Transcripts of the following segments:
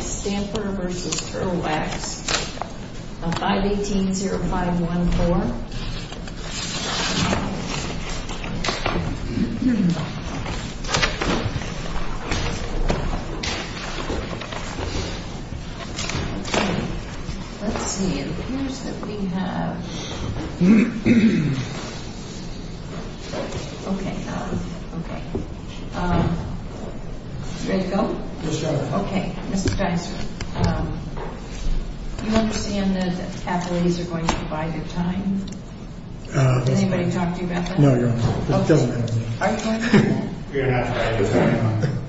Stamper v. Turtle Wax, 518-0514. Let's see, it appears that we have... Ready to go? Okay, Mr. Dyson. Do you understand that athletes are going to provide the time? Has anybody talked to you about this? No, Your Honor. Okay. Are you talking to me? You're going to have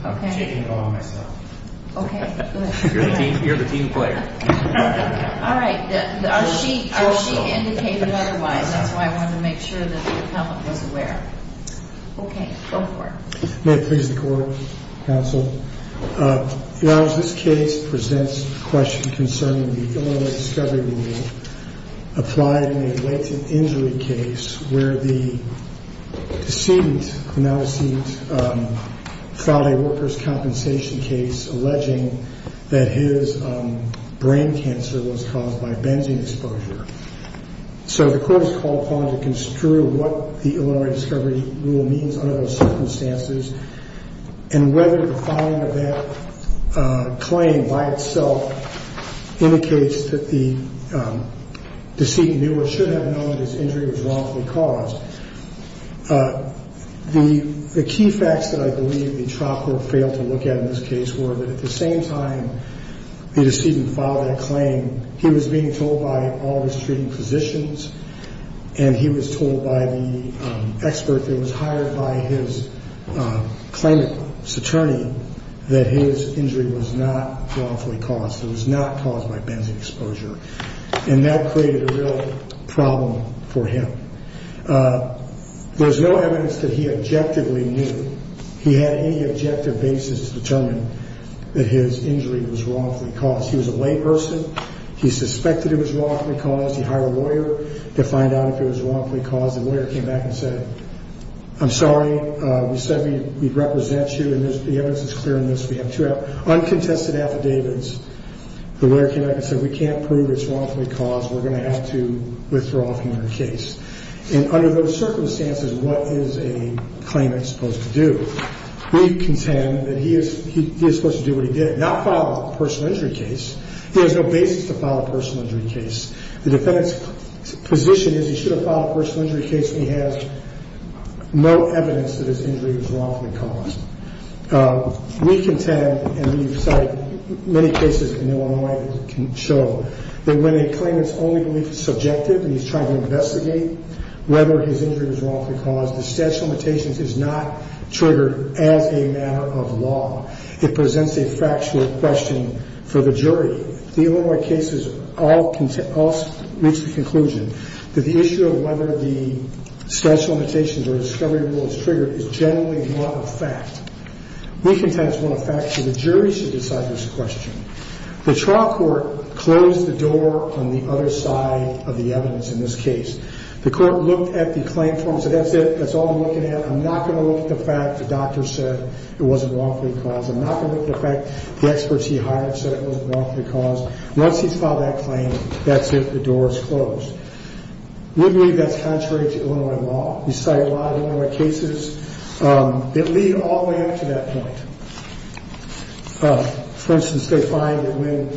to. Okay. I'm taking it all on myself. Okay, good. You're the team player. All right. Are she indicated otherwise? That's why I wanted to make sure that the appellant was aware. Okay, go for it. May it please the Court, Counsel. Your Honor, this case presents a question concerning the Illinois discovery rule applied in a related injury case where the deceased, now deceased, filed a workers' compensation case alleging that his brain cancer was caused by benzene exposure. So the Court is called upon to construe what the Illinois discovery rule means under those circumstances and whether the filing of that claim by itself indicates that the deceased knew or should have known that his injury was wrongfully caused. The key facts that I believe the chopper failed to look at in this case were that at the same time the decedent filed that claim, he was being told by all of his treating physicians and he was told by the expert that was hired by his claimant's attorney that his injury was not wrongfully caused. It was not caused by benzene exposure. And that created a real problem for him. There was no evidence that he objectively knew. He had any objective basis to determine that his injury was wrongfully caused. He was a layperson. He suspected it was wrongfully caused. He hired a lawyer to find out if it was wrongfully caused. The lawyer came back and said, I'm sorry. We said we'd represent you, and the evidence is clear in this. We have two uncontested affidavits. The lawyer came back and said, we can't prove it's wrongfully caused. We're going to have to withdraw from your case. And under those circumstances, what is a claimant supposed to do? We contend that he is supposed to do what he did, not file a personal injury case. He has no basis to file a personal injury case. The defendant's position is he should have filed a personal injury case, and he has no evidence that his injury was wrongfully caused. We contend, and we've cited many cases in Illinois that can show that when a claimant's only belief is subjective and he's trying to investigate whether his injury was wrongfully caused, the statute of limitations is not triggered as a matter of law. It presents a factual question for the jury. The Illinois cases all reach the conclusion that the issue of whether the statute of limitations or discovery rule is triggered is generally not a fact. We contend it's not a fact, so the jury should decide this question. The trial court closed the door on the other side of the evidence in this case. The court looked at the claim form and said that's it, that's all we're looking at. I'm not going to look at the fact the doctor said it wasn't wrongfully caused. I'm not going to look at the fact the experts he hired said it wasn't wrongfully caused. Once he's filed that claim, that's it, the door is closed. We believe that's contrary to Illinois law. We cite a lot of Illinois cases that lead all the way up to that point. For instance, they find that when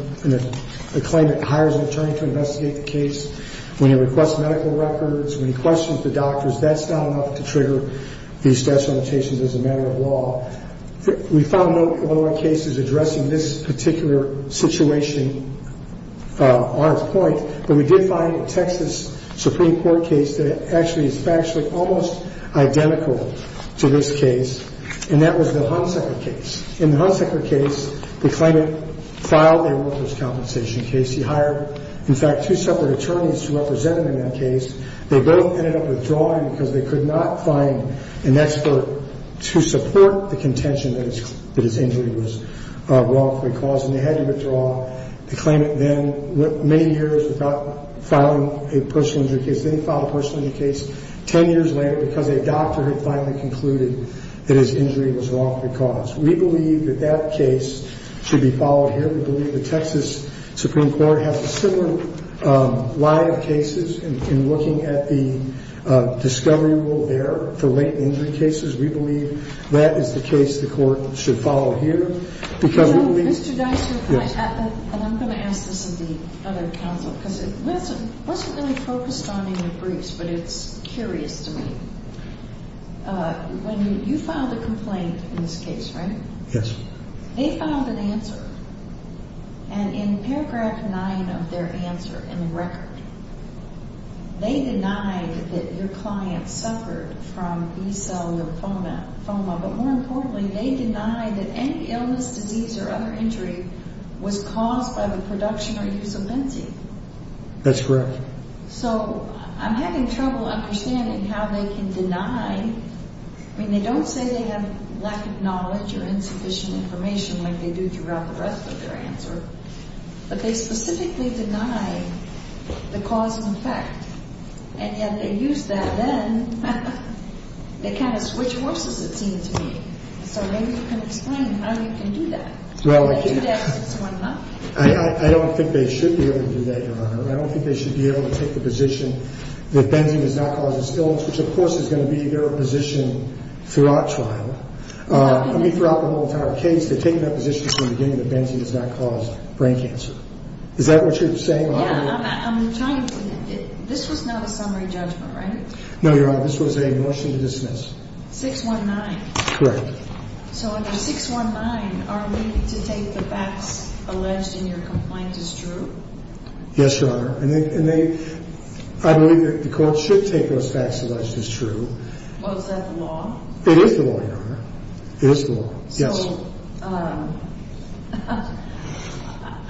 a claimant hires an attorney to investigate the case, when he requests medical records, when he questions the doctors, that's not enough to trigger these statute of limitations as a matter of law. We found no Illinois cases addressing this particular situation on its point, but we did find a Texas Supreme Court case that actually is factually almost identical to this case, and that was the Hunsaker case. In the Hunsaker case, the claimant filed a workers' compensation case. He hired, in fact, two separate attorneys to represent him in that case. They both ended up withdrawing because they could not find an expert to support the contention that his injury was wrongfully caused, and they had to withdraw. The claimant then went many years without filing a personal injury case. They filed a personal injury case 10 years later because a doctor had finally concluded that his injury was wrongfully caused. We believe that that case should be followed here. We believe the Texas Supreme Court has a similar line of cases in looking at the discovery rule there for latent injury cases. We believe that is the case the court should follow here because we believeó But it's curious to me. When you filed a complaint in this case, right? Yes. They filed an answer, and in paragraph 9 of their answer in the record, they denied that your client suffered from B-cellular foma, but more importantly, they denied that any illness, disease, or other injury was caused by the production or use of benzene. That's correct. So I'm having trouble understanding how they can denyó I mean, they don't say they have lack of knowledge or insufficient information like they do throughout the rest of their answer, but they specifically deny the cause and effect, and yet they use that then. They kind of switch horses, it seems to me. So maybe you can explain how you can do that. Well, I can. You can do that since one month. I don't think they should be able to do that, Your Honor. I don't think they should be able to take the position that benzene does not cause illness, which, of course, is going to be their position throughout trial. I mean, throughout the whole entire case, they've taken that position from the beginning that benzene does not cause brain cancer. Is that what you're saying? Yeah. I'm trying toóthis was not a summary judgment, right? No, Your Honor. This was a motion to dismiss. 619. Correct. So under 619, are we to take the facts alleged in your complaint as true? Yes, Your Honor. And theyóI believe that the court should take those facts alleged as true. Well, is that the law? It is the law, Your Honor. It is the law. Yes. So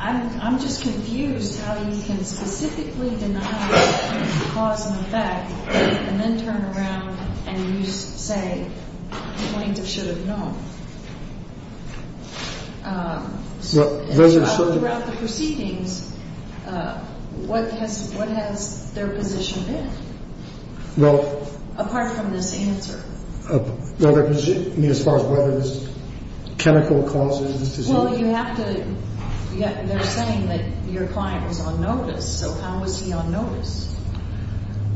I'm just confused how you can specifically deny the cause and effect and then turn around and useósay the plaintiff should have known. Well, those are certainó Throughout the proceedings, what has their position been? Welló Apart from this answer. Well, their positionóI mean, as far as whether this chemical causes diseaseó Well, you have toóthey're saying that your client was on notice. So how was he on notice?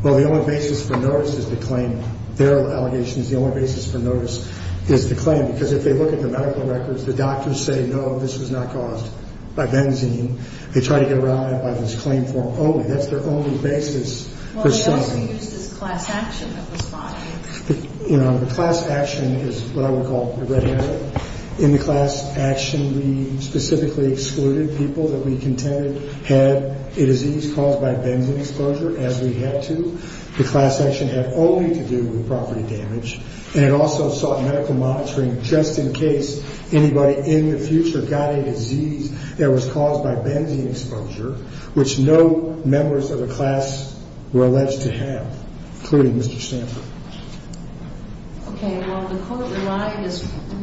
Well, the only basis for notice is the claimótheir allegation is the only basis for notice is the claim, because if they look at the medical records, the doctors say, no, this was not caused by benzene. They try to get around it by this claim form only. That's their only basis for something. Well, they also used this class action that was filed. You know, the class action is what I would call the red herring. In the class action, we specifically excluded people that we contended had a disease caused by benzene exposure as we had to. The class action had only to do with property damage. And it also sought medical monitoring just in case anybody in the future got a disease that was caused by benzene exposure, which no members of the class were alleged to have, including Mr. Sanford. Okay. Well, didn't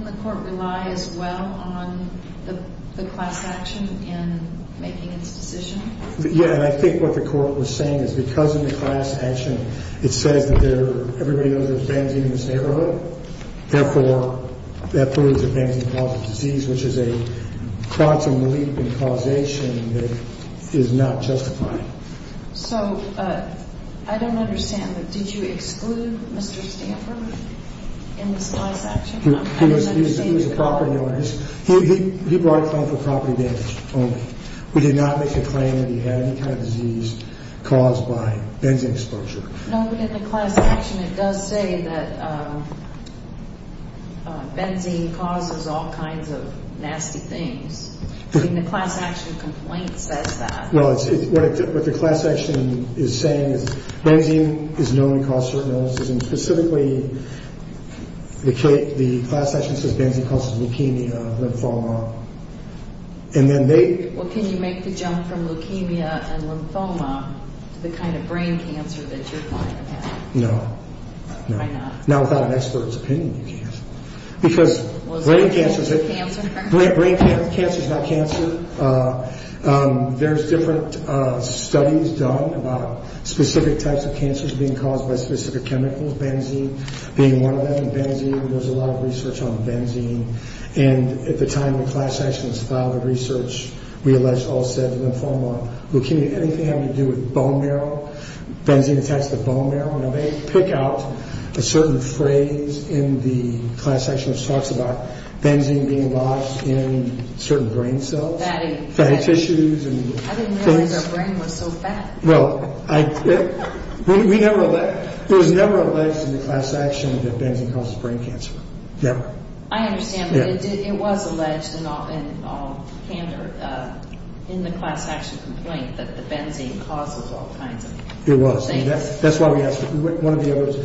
the court rely as well on the class action in making its decision? Yeah. And I think what the court was saying is because in the class action it says that everybody knows there's benzene in this neighborhood, therefore that proves that benzene causes disease, which is a quantum leap in causation that is not justified. So I don't understand. Did you exclude Mr. Sanford in this class action? He was a property owner. He brought a claim for property damage only. We did not make a claim that he had any kind of disease caused by benzene exposure. No, but in the class action, it does say that benzene causes all kinds of nasty things. In the class action complaint, it says that. Well, what the class action is saying is benzene is known to cause certain illnesses, and specifically the class action says benzene causes leukemia, lymphoma. Well, can you make the jump from leukemia and lymphoma to the kind of brain cancer that you're finding? No. Why not? Now, without an expert's opinion, you can't. Because brain cancer is not cancer. There's different studies done about specific types of cancers being caused by specific chemicals, benzene being one of them. In benzene, there's a lot of research on benzene. And at the time the class action was filed, the research, we allege, all said lymphoma, leukemia, anything having to do with bone marrow, benzene attached to the bone marrow. Now, they pick out a certain phrase in the class action which talks about benzene being lost in certain brain cells. Fatty tissues and things. I didn't realize our brain was so fat. Well, it was never alleged in the class action that benzene causes brain cancer. Never. I understand, but it was alleged in the class action complaint that the benzene causes all kinds of things. It was. That's why we asked one of the others.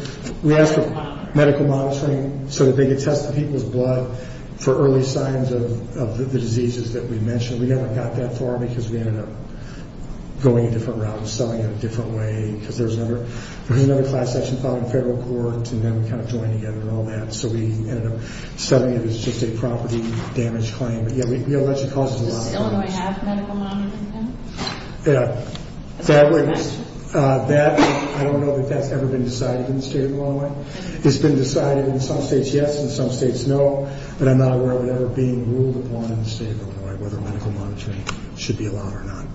We asked for medical monitoring so that they could test the people's blood for early signs of the diseases that we mentioned. We never got that far because we ended up going a different route and selling it a different way because there was another class action filed in federal court and then we kind of joined together and all that. So we ended up selling it as just a property damage claim. But, yeah, we allege it causes a lot of damage. Does Illinois have medical monitoring now? Yeah. That's my question. That, I don't know if that's ever been decided in the state of Illinois. It's been decided in some states, yes, in some states, no, but I'm not aware of it ever being ruled upon in the state of Illinois whether medical monitoring should be allowed or not.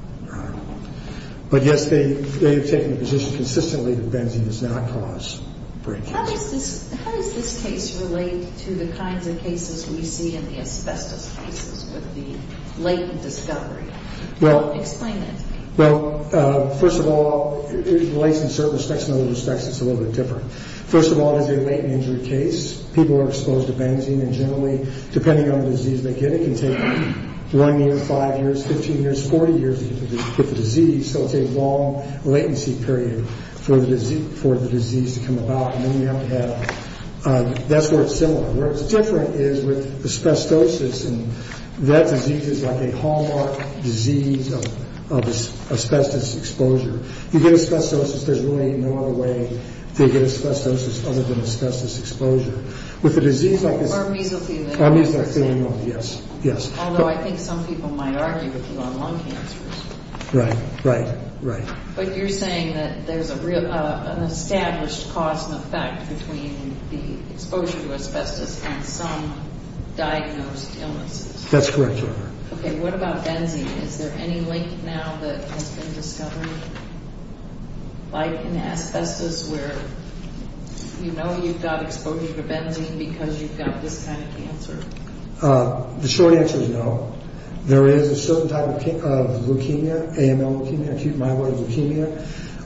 But, yes, they have taken the position consistently that benzene does not cause brain cancer. How does this case relate to the kinds of cases we see in the asbestos cases with the latent discovery? Explain that to me. Well, first of all, it relates in certain respects. In other respects, it's a little bit different. First of all, it is a latent injury case. People are exposed to benzene and generally, depending on the disease they get, it can take one year, five years, 15 years, 40 years to get the disease. So it's a long latency period for the disease to come about. And then we have to have, that's where it's similar. Where it's different is with asbestosis and that disease is like a hallmark disease of asbestos exposure. You get asbestosis, there's really no other way to get asbestosis other than asbestos exposure. With a disease like this. Or mesothelioma. Or mesothelioma, yes, yes. Although I think some people might argue with you on lung cancers. Right, right, right. But you're saying that there's an established cause and effect between the exposure to asbestos and some diagnosed illnesses. That's correct. Okay, what about benzene? Is there any link now that has been discovered? Like in asbestos where you know you've got exposure to benzene because you've got this kind of cancer. The short answer is no. There is a certain type of leukemia, AML leukemia, acute myeloid leukemia,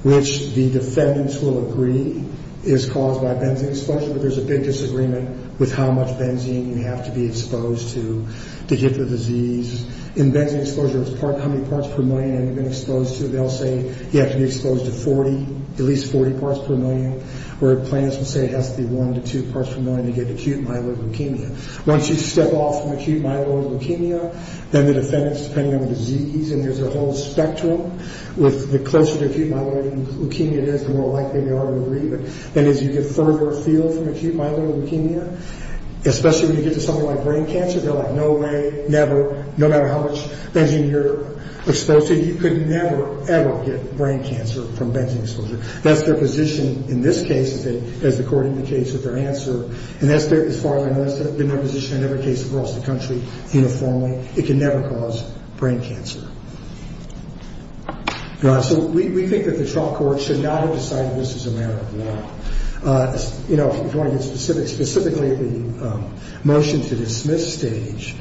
which the defendants will agree is caused by benzene exposure. But there's a big disagreement with how much benzene you have to be exposed to to get the disease. In benzene exposure, it's how many parts per million have you been exposed to. They'll say you have to be exposed to 40, at least 40 parts per million. Where plaintiffs will say it has to be one to two parts per million to get acute myeloid leukemia. Once you step off from acute myeloid leukemia, then the defendants, depending on the disease, and there's a whole spectrum. The closer to acute myeloid leukemia it is, the more likely they are to agree. Then as you get further afield from acute myeloid leukemia, especially when you get to something like brain cancer, they're like no way, never, no matter how much benzene you're exposed to, you could never, ever get brain cancer from benzene exposure. That's their position in this case, as according to the case of their answer. As far as I know, that's been their position in every case across the country uniformly. It can never cause brain cancer. We think that the trial court should not have decided this is a matter of law. If you want to get specific, specifically the motion to dismiss stage.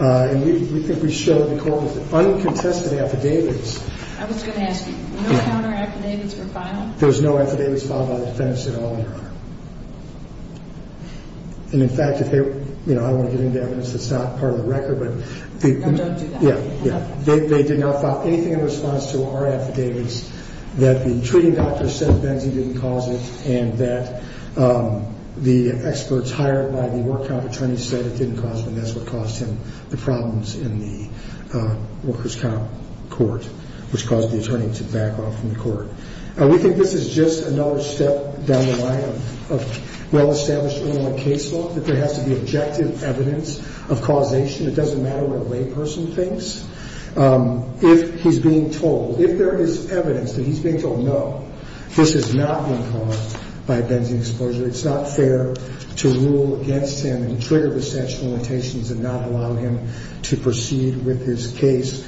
We think we showed the court with uncontested affidavits. I was going to ask you, no counter affidavits were filed? There was no affidavits filed by the defendants at all, Your Honor. And, in fact, if they were, you know, I don't want to get into evidence that's not part of the record, but... No, don't do that. Yeah, yeah. They did not file anything in response to our affidavits that the treating doctor said benzene didn't cause it and that the experts hired by the work count attorney said it didn't cause it and that's what caused him the problems in the workers' comp court, which caused the attorney to back off from the court. We think this is just another step down the line of well-established case law that there has to be objective evidence of causation. It doesn't matter what a layperson thinks. If he's being told, if there is evidence that he's being told no, this is not being caused by a benzene exposure. It's not fair to rule against him and trigger the statute of limitations and not allow him to proceed with his case.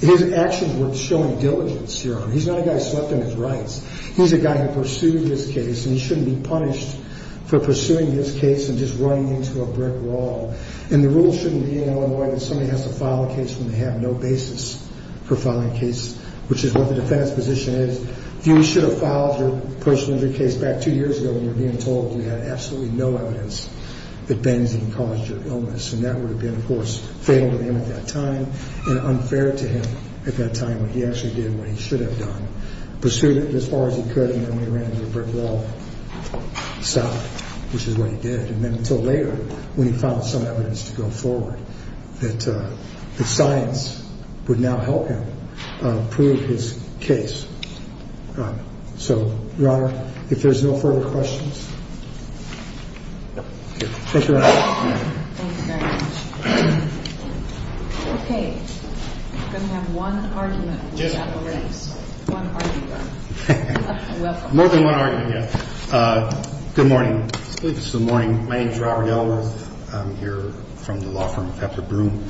His actions were showing diligence here. He's not a guy slept on his rights. He's a guy who pursued this case, and he shouldn't be punished for pursuing this case and just running into a brick wall. And the rule shouldn't be in Illinois that somebody has to file a case when they have no basis for filing a case, which is what the defense position is. You should have filed your post-injury case back two years ago when you were being told you had absolutely no evidence that benzene caused your illness, and that would have been, of course, fatal to him at that time and unfair to him at that time when he actually did what he should have done. Pursued it as far as he could, and then he ran into a brick wall, sobbed, which is what he did, and then until later when he found some evidence to go forward that science would now help him prove his case. So, Your Honor, if there's no further questions. Thank you, Your Honor. Thank you very much. Okay. We're going to have one argument. One argument. More than one argument, yeah. Good morning. Good morning. My name is Robert Ellworth. I'm here from the law firm Pepper Broom,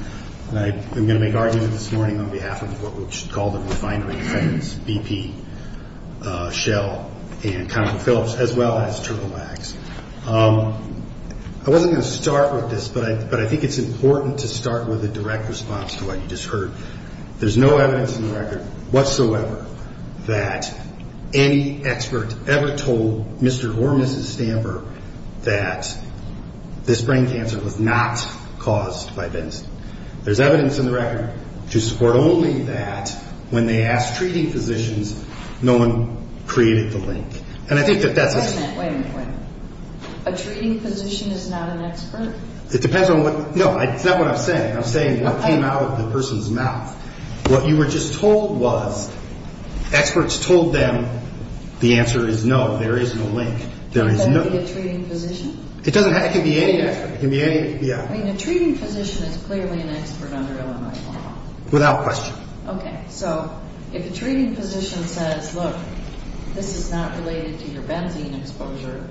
and I am going to make argument this morning on behalf of what we should call the refinery, BP, Shell, and Conrad Phillips, as well as Turbo Max. I wasn't going to start with this, but I think it's important to start with a direct response to what you just heard. There's no evidence in the record whatsoever that any expert ever told Mr. or Mrs. Stamper that this brain cancer was not caused by benzene. There's evidence in the record to support only that when they asked treating physicians, no one created the link. Wait a minute, wait a minute, wait a minute. A treating physician is not an expert? It depends on what, no, it's not what I'm saying. I'm saying what came out of the person's mouth. What you were just told was experts told them the answer is no, there is no link. Can it be a treating physician? It can be any expert. A treating physician is clearly an expert under Illinois law. Without question. Okay, so if a treating physician says, look, this is not related to your benzene exposure,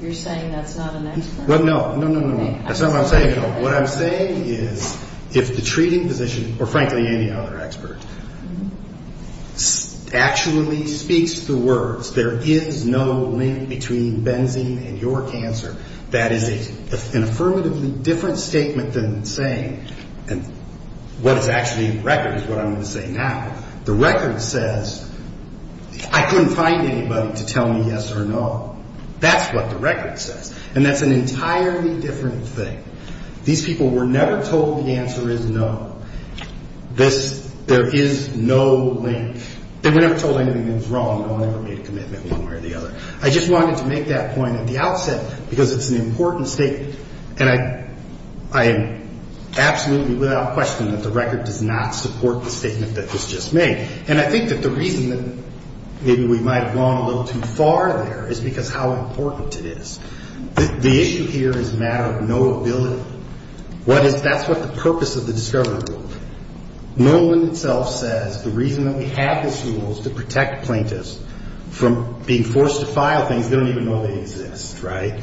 you're saying that's not an expert? No, no, no, no, that's not what I'm saying at all. What I'm saying is if the treating physician, or frankly any other expert, actually speaks the words there is no link between benzene and your cancer, that is an affirmatively different statement than saying what is actually in the record is what I'm going to say now. The record says I couldn't find anybody to tell me yes or no. That's what the record says. And that's an entirely different thing. These people were never told the answer is no. There is no link. They were never told anything that was wrong. No one ever made a commitment one way or the other. I just wanted to make that point at the outset because it's an important statement. And I am absolutely without question that the record does not support the statement that was just made. And I think that the reason that maybe we might have gone a little too far there is because how important it is. The issue here is a matter of knowability. That's what the purpose of the discovery rule. Nolan itself says the reason that we have this rule is to protect plaintiffs from being forced to file things they don't even know they exist, right?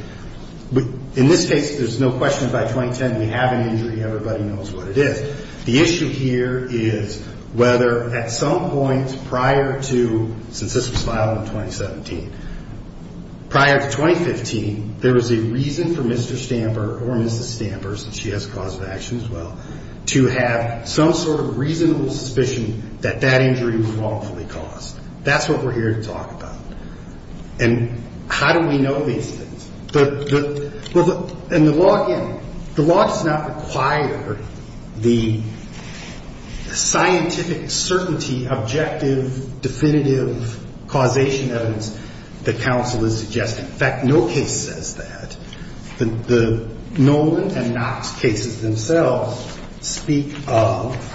In this case, there's no question by 2010 we have an injury, everybody knows what it is. The issue here is whether at some point prior to, since this was filed in 2017, prior to 2015, there was a reason for Mr. Stamper or Mrs. Stamper, since she has cause of action as well, to have some sort of reasonable suspicion that that injury was wrongfully caused. That's what we're here to talk about. And how do we know these things? And the law, again, the law does not require the scientific certainty, objective, definitive causation evidence that counsel is suggesting. In fact, no case says that. The Nolan and Knox cases themselves speak of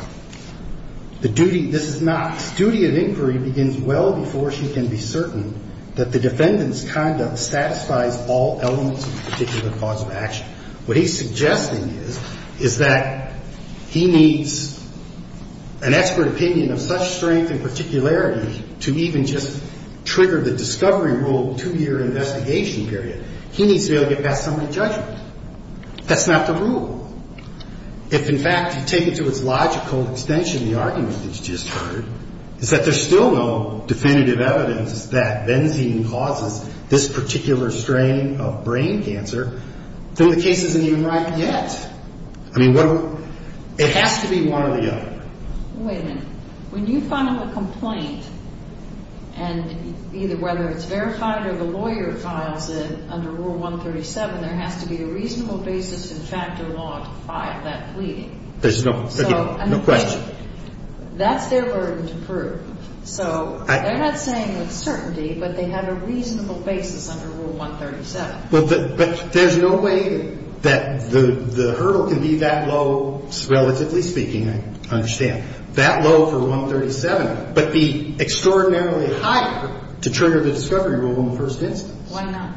the duty, this is Knox, his duty of inquiry begins well before she can be certain that the defendant's conduct satisfies all elements of the particular cause of action. What he's suggesting is, is that he needs an expert opinion of such strength and particularity to even just trigger the discovery rule two-year investigation period. He needs to be able to get past somebody's judgment. That's not the rule. If, in fact, you take it to its logical extension, the argument that you just heard, is that there's still no definitive evidence that benzene causes this particular strain of brain cancer, then the case isn't even right yet. I mean, it has to be one or the other. Wait a minute. When you file a complaint, and either whether it's verified or the lawyer files it, under Rule 137, there has to be a reasonable basis in factor law to file that plea. There's no question. That's their burden to prove. So they're not saying with certainty, but they have a reasonable basis under Rule 137. But there's no way that the hurdle can be that low, relatively speaking, I understand, that low for 137, but be extraordinarily high to trigger the discovery rule in the first instance. Why not?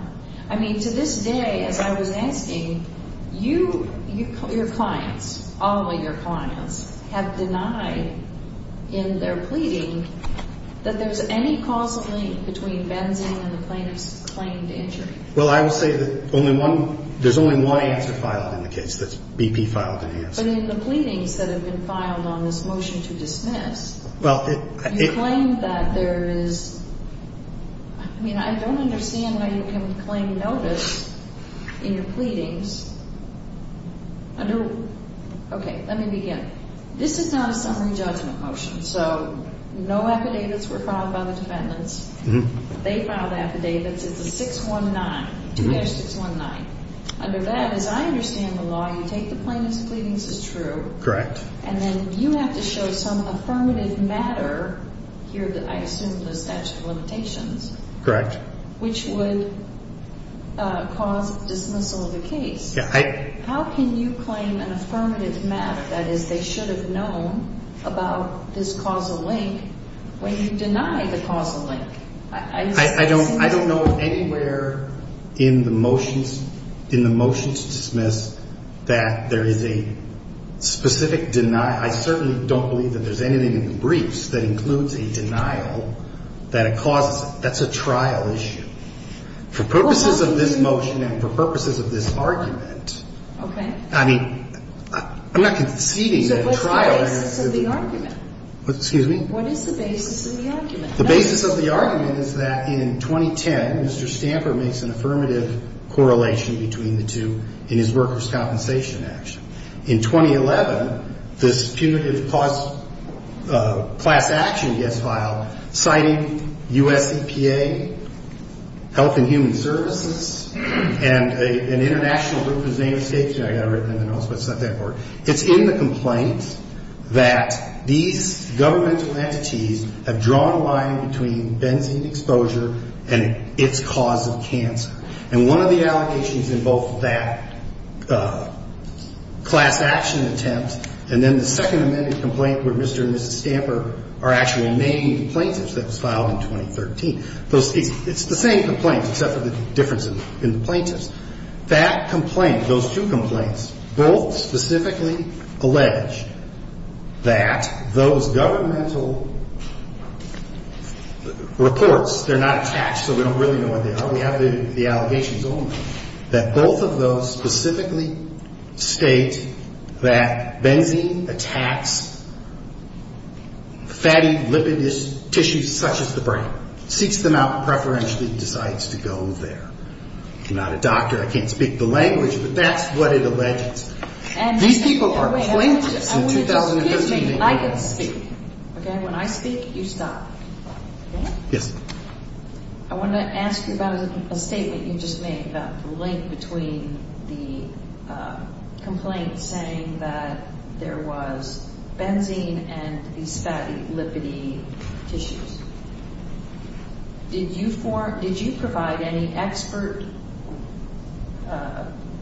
I mean, to this day, as I was asking, you, your clients, all of your clients, have denied in their pleading that there's any causal link between benzene and the plaintiff's claimed injury. Well, I will say that only one, there's only one answer filed in the case that's BP filed an answer. But in the pleadings that have been filed on this motion to dismiss, you claim that there is, I mean, I don't understand why you can claim notice in your pleadings under, okay, let me begin. This is not a summary judgment motion, so no affidavits were filed by the defendants. They filed affidavits. It's a 619, 2-619. Under that, as I understand the law, you take the plaintiff's pleadings as true. Correct. And then you have to show some affirmative matter here that I assume the statute of limitations. Correct. Which would cause dismissal of the case. Yeah. How can you claim an affirmative matter, that is, they should have known about this causal link, when you deny the causal link? I don't know of anywhere in the motions, in the motions to dismiss, that there is a specific denial. I certainly don't believe that there's anything in the briefs that includes a denial, that it causes, that's a trial issue. For purposes of this motion and for purposes of this argument. Okay. I mean, I'm not conceding that a trial is. So what's the basis of the argument? Excuse me? What is the basis of the argument? The basis of the argument is that in 2010, Mr. Stamper makes an affirmative correlation between the two in his workers' compensation action. In 2011, this punitive class action gets filed, citing U.S. EPA, Health and Human Services, and an international group whose name escapes me. I got it written in the notes, but it's not that important. It's in the complaint that these governmental entities have drawn a line between benzene exposure and its cause of cancer. And one of the allegations in both that class action attempt and then the second amended complaint where Mr. and Mrs. Stamper are actually named plaintiffs that was filed in 2013. It's the same complaint, except for the difference in the plaintiffs. That complaint, those two complaints, both specifically allege that those governmental reports, they're not attached, so we don't really know what they are. We have the allegations only. That both of those specifically state that benzene attacks fatty, lipidous tissues such as the brain. Seeks them out preferentially and decides to go there. I'm not a doctor. I can't speak the language, but that's what it alleges. These people are plaintiffs in 2013. Excuse me. I can speak. Okay? When I speak, you stop. Okay? Yes. I want to ask you about a statement you just made about the link between the complaint saying that there was benzene and these fatty, lipidy tissues. Did you provide any expert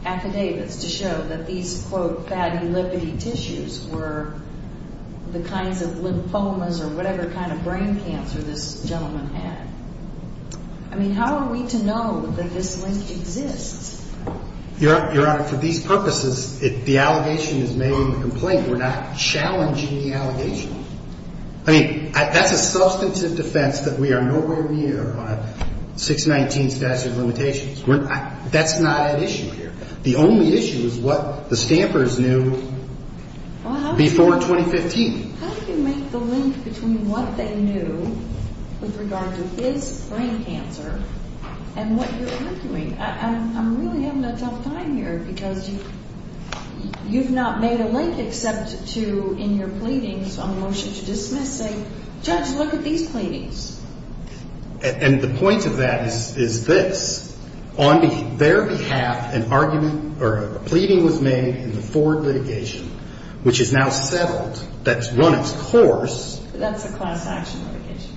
affidavits to show that these, quote, fatty, lipidy tissues were the kinds of lymphomas or whatever kind of brain cancer this gentleman had? I mean, how are we to know that this link exists? Your Honor, for these purposes, the allegation is made in the complaint. We're not challenging the allegation. I mean, that's a substantive defense that we are nowhere near 619 statute of limitations. That's not at issue here. The only issue is what the stampers knew before 2015. How do you make the link between what they knew with regard to his brain cancer and what you're arguing? I'm really having a tough time here because you've not made a link except to in your pleadings on the motion to dismiss say, judge, look at these pleadings. And the point of that is this. On their behalf, an argument or a pleading was made in the Ford litigation, which is now settled. That's run its course. That's a class action litigation.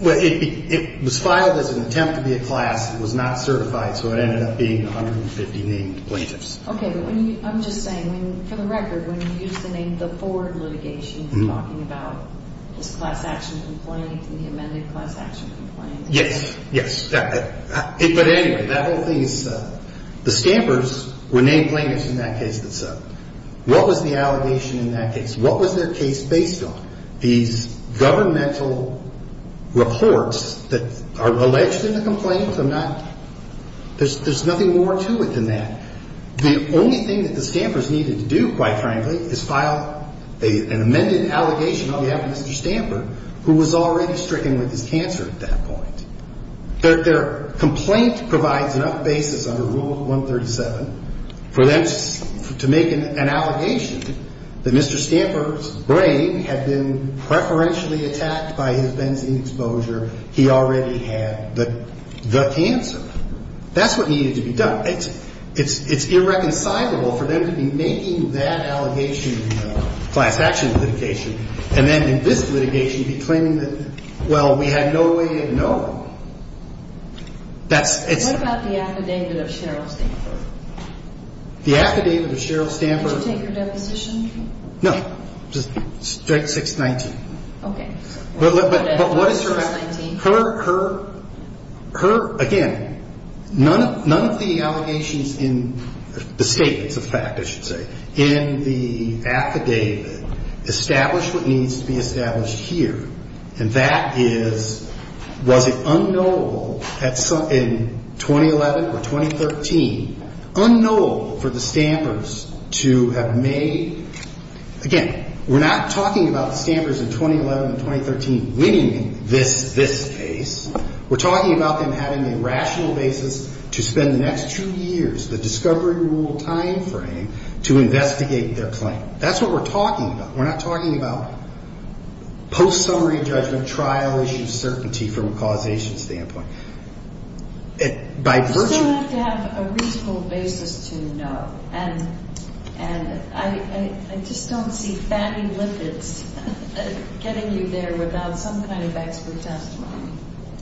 Well, it was filed as an attempt to be a class. It was not certified, so it ended up being 150 named plaintiffs. Okay, but I'm just saying, for the record, when you use the name the Ford litigation, you're talking about this class action complaint and the amended class action complaint. Yes, yes. But anyway, that whole thing is the stampers were named plaintiffs in that case that's settled. What was the allegation in that case? What was their case based on? These governmental reports that are alleged in the complaint are not ñ there's nothing more to it than that. The only thing that the stampers needed to do, quite frankly, is file an amended allegation on behalf of Mr. Stamper, who was already stricken with his cancer at that point. Their complaint provides enough basis under Rule 137 for them to make an allegation that Mr. Stamper's brain had been preferentially attacked by his benzene exposure. He already had the cancer. That's what needed to be done. It's irreconcilable for them to be making that allegation in the class action litigation and then in this litigation be claiming that, well, we had no way to know. What about the affidavit of Cheryl Stamper? The affidavit of Cheryl Stamper. Did you take her deposition? No, just straight 619. Okay. Again, none of the allegations in the statements of fact, I should say, in the affidavit establish what needs to be established here. And that is, was it unknowable in 2011 or 2013, unknowable for the stampers to have made ñ again, we're not talking about the stampers in 2011 and 2013. Winning this case, we're talking about them having a rational basis to spend the next two years, the discovery rule timeframe, to investigate their claim. That's what we're talking about. We're not talking about post-summary judgment trial issue certainty from a causation standpoint. You still have to have a reasonable basis to know. And I just don't see fatty lipids getting you there without some kind of expert testimony.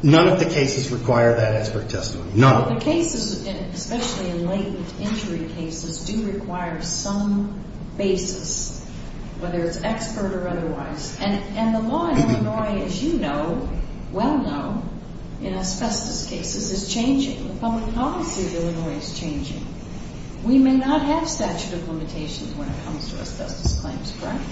None of the cases require that expert testimony. None of them. The cases, especially in latent injury cases, do require some basis, whether it's expert or otherwise. And the law in Illinois, as you know, well know, in asbestos cases, is changing. The public policy of Illinois is changing. We may not have statute of limitations when it comes to asbestos claims, correct?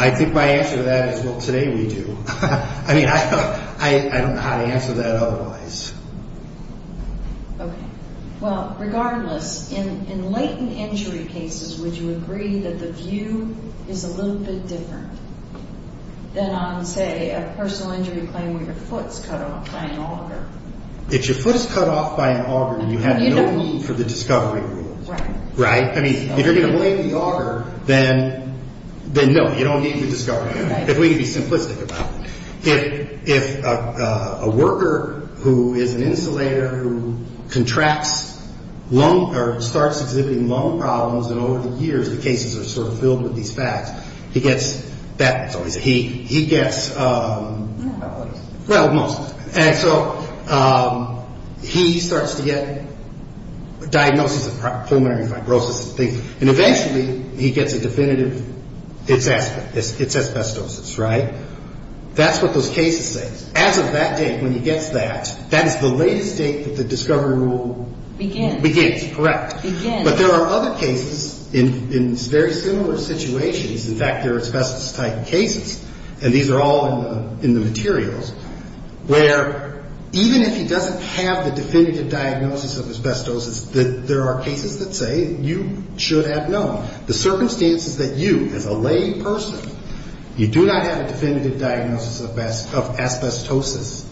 I think my answer to that is, well, today we do. I mean, I don't know how to answer that otherwise. Okay. Well, regardless, in latent injury cases, would you agree that the view is a little bit different than on, say, a personal injury claim where your foot's cut off by an auger? If your foot is cut off by an auger, you have no need for the discovery rule. Right. Right? I mean, if you're going to lay the auger, then no, you don't need the discovery rule, if we can be simplistic about it. If a worker who is an insulator who contracts lung or starts exhibiting lung problems, and over the years the cases are sort of filled with these facts, he gets that. He gets, well, most. And so he starts to get diagnoses of pulmonary fibrosis and things, and eventually he gets a definitive, it's asbestos, right? That's what those cases say. As of that date when he gets that, that is the latest date that the discovery rule begins. Correct. Begins. But there are other cases in very similar situations. In fact, there are asbestos-type cases, and these are all in the materials, where even if he doesn't have the definitive diagnosis of asbestosis, there are cases that say you should have known. The circumstances that you, as a lay person, you do not have a definitive diagnosis of asbestosis,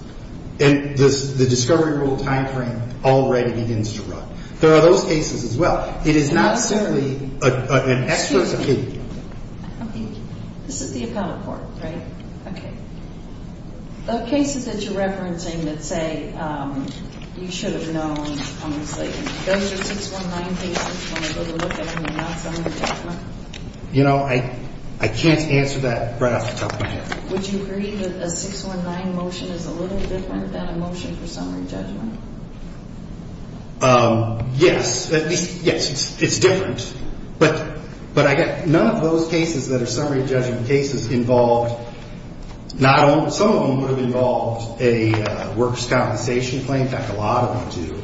and the discovery rule time frame already begins to run. There are those cases as well. It is not simply an extra. Excuse me. This is the appellate court, right? Okay. The cases that you're referencing that say you should have known, those are 619 cases when it doesn't look like a non-summary judgment? You know, I can't answer that right off the top of my head. Would you agree that a 619 motion is a little different than a motion for summary judgment? Yes. Yes, it's different. But I get none of those cases that are summary judgment cases involved, not only, some of them would have involved a workers' compensation claim, in fact, a lot of them do,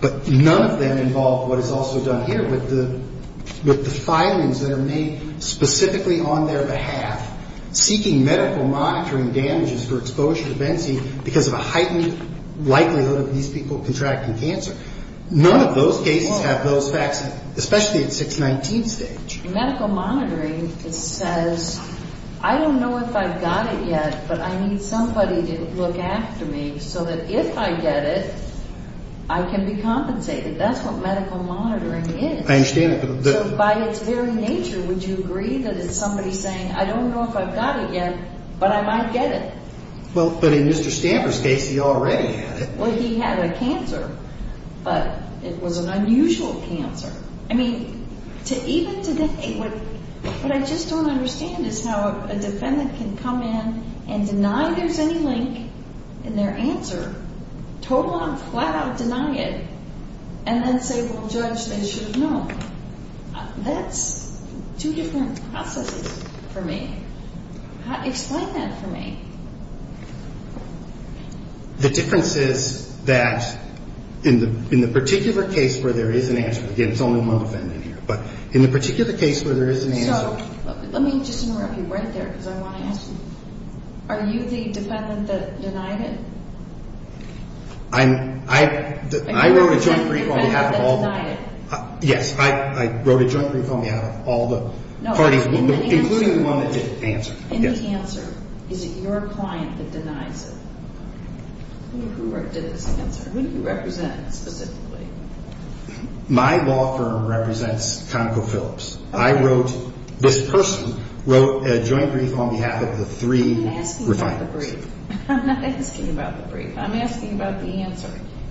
but none of them involve what is also done here with the filings that are made specifically on their behalf, seeking medical monitoring damages for exposure to Benzene because of a heightened likelihood of these people contracting cancer. None of those cases have those facts, especially at 619 stage. Medical monitoring says, I don't know if I've got it yet, but I need somebody to look after me so that if I get it, I can be compensated. That's what medical monitoring is. I understand that. So by its very nature, would you agree that it's somebody saying, I don't know if I've got it yet, but I might get it? Well, but in Mr. Stanford's case, he already had it. Well, he had a cancer, but it was an unusual cancer. I mean, to even today, what I just don't understand is how a defendant can come in and deny there's any link in their answer, total and flat out deny it, and then say, well, Judge, they should have known. That's two different processes for me. Explain that for me. The difference is that in the particular case where there is an answer, again, it's only one defendant here, but in the particular case where there is an answer. So let me just interrupt you right there because I want to ask you, are you the defendant that denied it? I wrote a joint brief on behalf of all the parties, including the one that didn't answer. And the answer, is it your client that denies it? Who did this answer? Who do you represent specifically? My law firm represents ConocoPhillips. I wrote, this person wrote a joint brief on behalf of the three refiners. I'm not asking about the brief. I'm asking about the answer.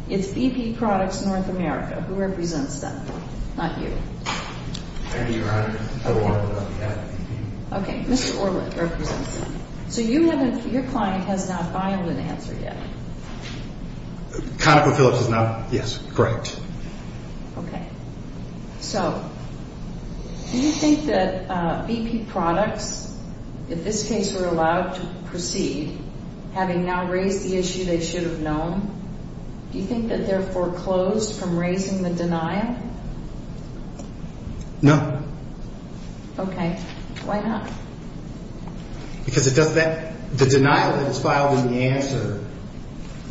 It's BP Products North America. Who represents them? Not you. Thank you, Your Honor. Okay. Mr. Orlick represents them. So you haven't, your client has not filed an answer yet? ConocoPhillips has not, yes. Correct. Okay. So, do you think that BP Products, if this case were allowed to proceed, having now raised the issue they should have known, do you think that they're foreclosed from raising the denial? No. Okay. Why not? Because it does that, the denial that is filed in the answer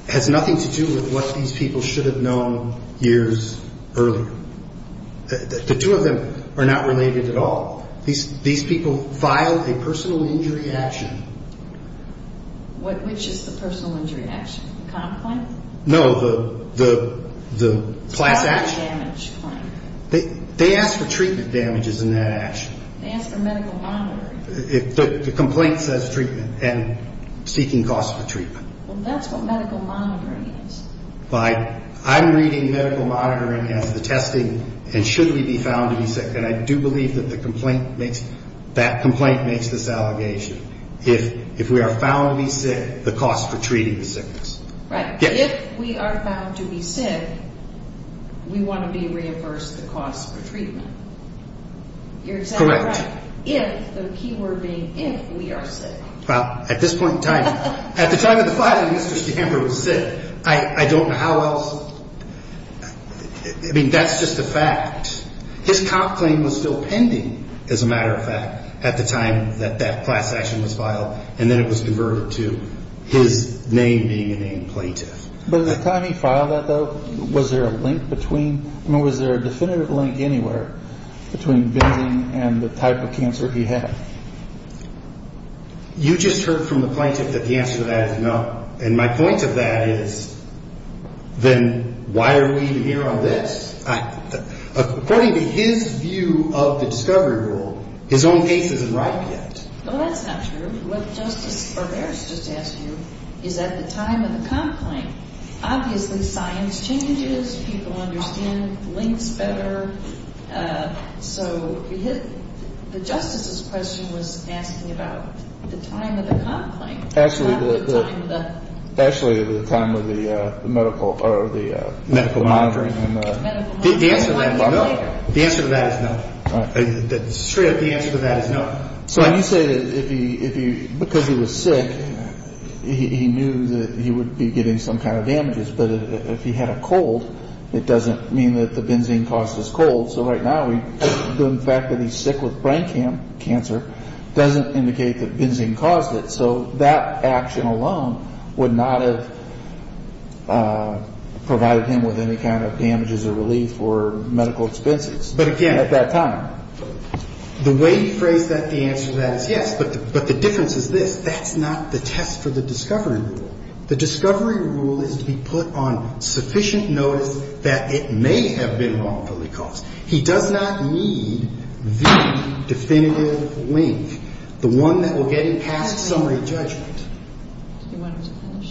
has nothing to do with what these people should have known years earlier. The two of them are not related at all. These people filed a personal injury action. Which is the personal injury action? The comp claim? No, the class action. They asked for treatment damages in that action. They asked for medical monitoring. The complaint says treatment and seeking costs for treatment. Well, that's what medical monitoring is. I'm reading medical monitoring as the testing and should we be found to be sick. And I do believe that the complaint makes, that complaint makes this allegation. If we are found to be sick, the cost for treating the sickness. Right. If we are found to be sick, we want to be reimbursed the cost for treatment. You're exactly right. Correct. If, the key word being if, we are sick. Well, at this point in time, at the time of the filing, Mr. Stamber was sick. I don't know how else. I mean, that's just a fact. His comp claim was still pending, as a matter of fact, at the time that that class action was filed. And then it was converted to his name being a named plaintiff. But at the time he filed that, though, was there a link between, I mean, was there a definitive link anywhere between Benzing and the type of cancer he had? You just heard from the plaintiff that the answer to that is no. And my point of that is, then why are we even here on this? According to his view of the discovery rule, his own case isn't ripe yet. Well, that's not true. What Justice Barberis just asked you is at the time of the comp claim. Obviously, science changes. People understand links better. So the Justice's question was asking about the time of the comp claim. Actually, the time of the medical monitoring. The answer to that is no. The answer to that is no. Straight up, the answer to that is no. So you say that because he was sick, he knew that he would be getting some kind of damages. But if he had a cold, it doesn't mean that the Benzing caused his cold. So right now, the fact that he's sick with brain cancer doesn't indicate that Benzing caused it. So that action alone would not have provided him with any kind of damages or relief or medical expenses at that time. The way he phrased that, the answer to that is yes. But the difference is this. That's not the test for the discovery rule. The discovery rule is to be put on sufficient notice that it may have been wrongfully caused. He does not need the definitive link, the one that will get him past summary judgment.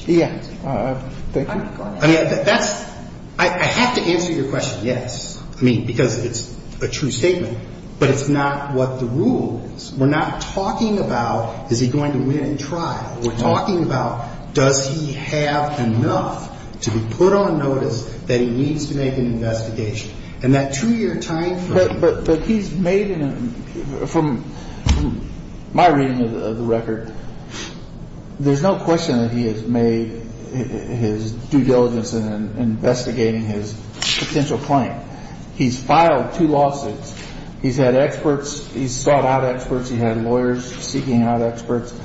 Yeah. I mean, that's – I have to answer your question, yes, I mean, because it's a true statement. But it's not what the rule is. We're not talking about is he going to win in trial. We're talking about does he have enough to be put on notice that he needs to make an investigation. And that two-year time frame. But he's made – from my reading of the record, there's no question that he has made his due diligence in investigating his potential claim. He's filed two lawsuits. He's had experts – he's sought out experts. He had lawyers seeking out experts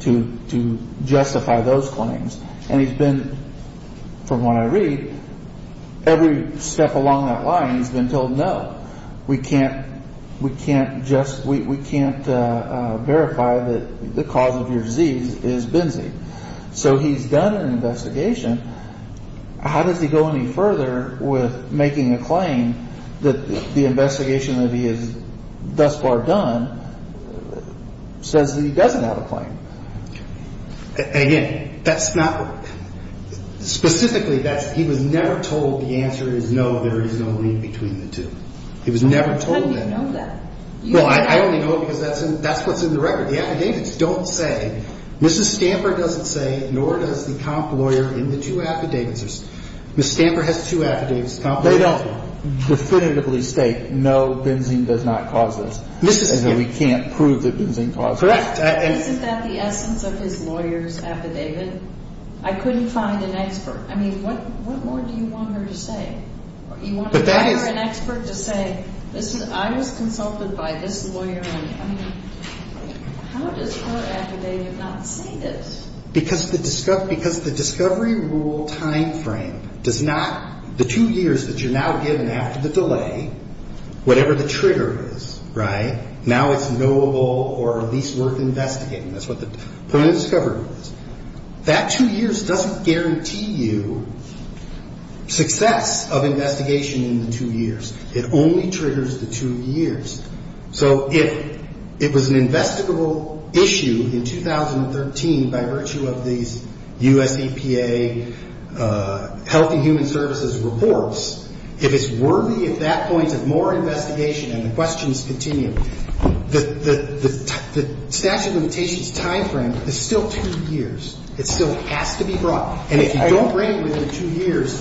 to justify those claims. And he's been – from what I read, every step along that line, he's been told no. We can't – we can't just – we can't verify that the cause of your disease is Benzie. So he's done an investigation. How does he go any further with making a claim that the investigation that he has thus far done says that he doesn't have a claim? Again, that's not – specifically, that's – he was never told the answer is no, there is no link between the two. He was never told that. How do you know that? Well, I only know it because that's what's in the record. The affidavits don't say – Mrs. Stamper doesn't say nor does the comp lawyer in the two affidavits. Mrs. Stamper has two affidavits. They don't definitively state no, Benzie does not cause this. Mrs. – And so we can't prove that Benzie caused it. Correct. Isn't that the essence of his lawyer's affidavit? I couldn't find an expert. I mean, what more do you want her to say? You want her, an expert, to say, listen, I was consulted by this lawyer on – I mean, how does her affidavit not say this? Because the discovery rule timeframe does not – the two years that you're now given after the delay, whatever the trigger is, right, now it's knowable or at least worth investigating. That's what the point of discovery is. That two years doesn't guarantee you success of investigation in the two years. It only triggers the two years. So if it was an investigable issue in 2013 by virtue of these US EPA Health and Human Services reports, if it's worthy at that point of more investigation and the questions continue, the statute of limitations timeframe is still two years. It still has to be brought. And if you don't bring it within the two years,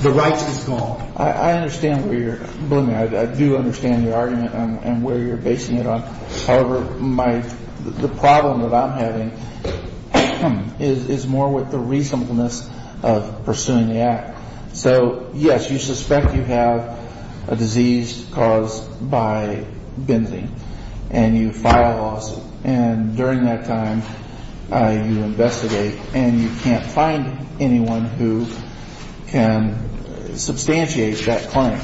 the right is gone. I understand where you're – believe me, I do understand your argument and where you're basing it on. However, my – the problem that I'm having is more with the reasonableness of pursuing the act. So, yes, you suspect you have a disease caused by benzene, and you file a lawsuit. And during that time, you investigate, and you can't find anyone who can substantiate that claim.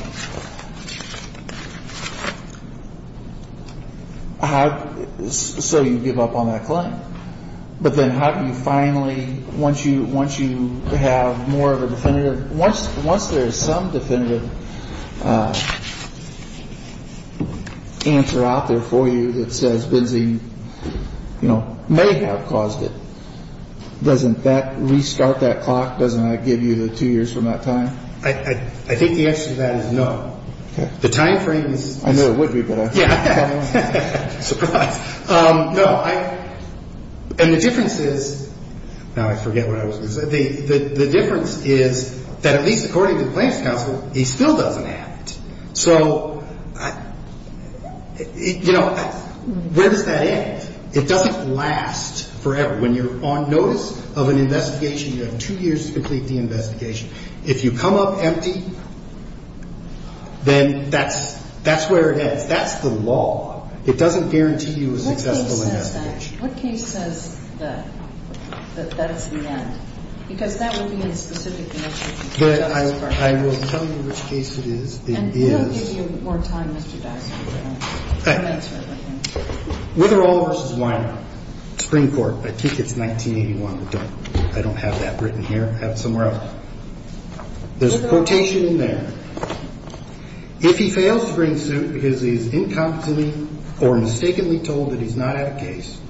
So you give up on that claim. But then how do you finally – once you have more of a definitive – once there is some definitive answer out there for you that says benzene, you know, may have caused it, doesn't that restart that clock? Doesn't that give you the two years from that time? I think the answer to that is no. Okay. The timeframe is – I know it would be, but I – Yeah. Surprise. No, I – and the difference is – now I forget what I was going to say. The difference is that at least according to the plaintiff's counsel, he still doesn't have it. So, you know, where does that end? It doesn't last forever. When you're on notice of an investigation, you have two years to complete the investigation. If you come up empty, then that's where it ends. That's the law. It doesn't guarantee you a successful investigation. What case says that? What case says that? That that is the end? Because that would be a specific case. I will tell you which case it is. It is – And we'll give you more time, Mr. Daxson, to answer everything. Witherall v. Weiner, Supreme Court. I think it's 1981. I don't have that written here. I have it somewhere else. There's a quotation in there. If he fails to bring suit because he is incompetently or mistakenly told that he's not at a case,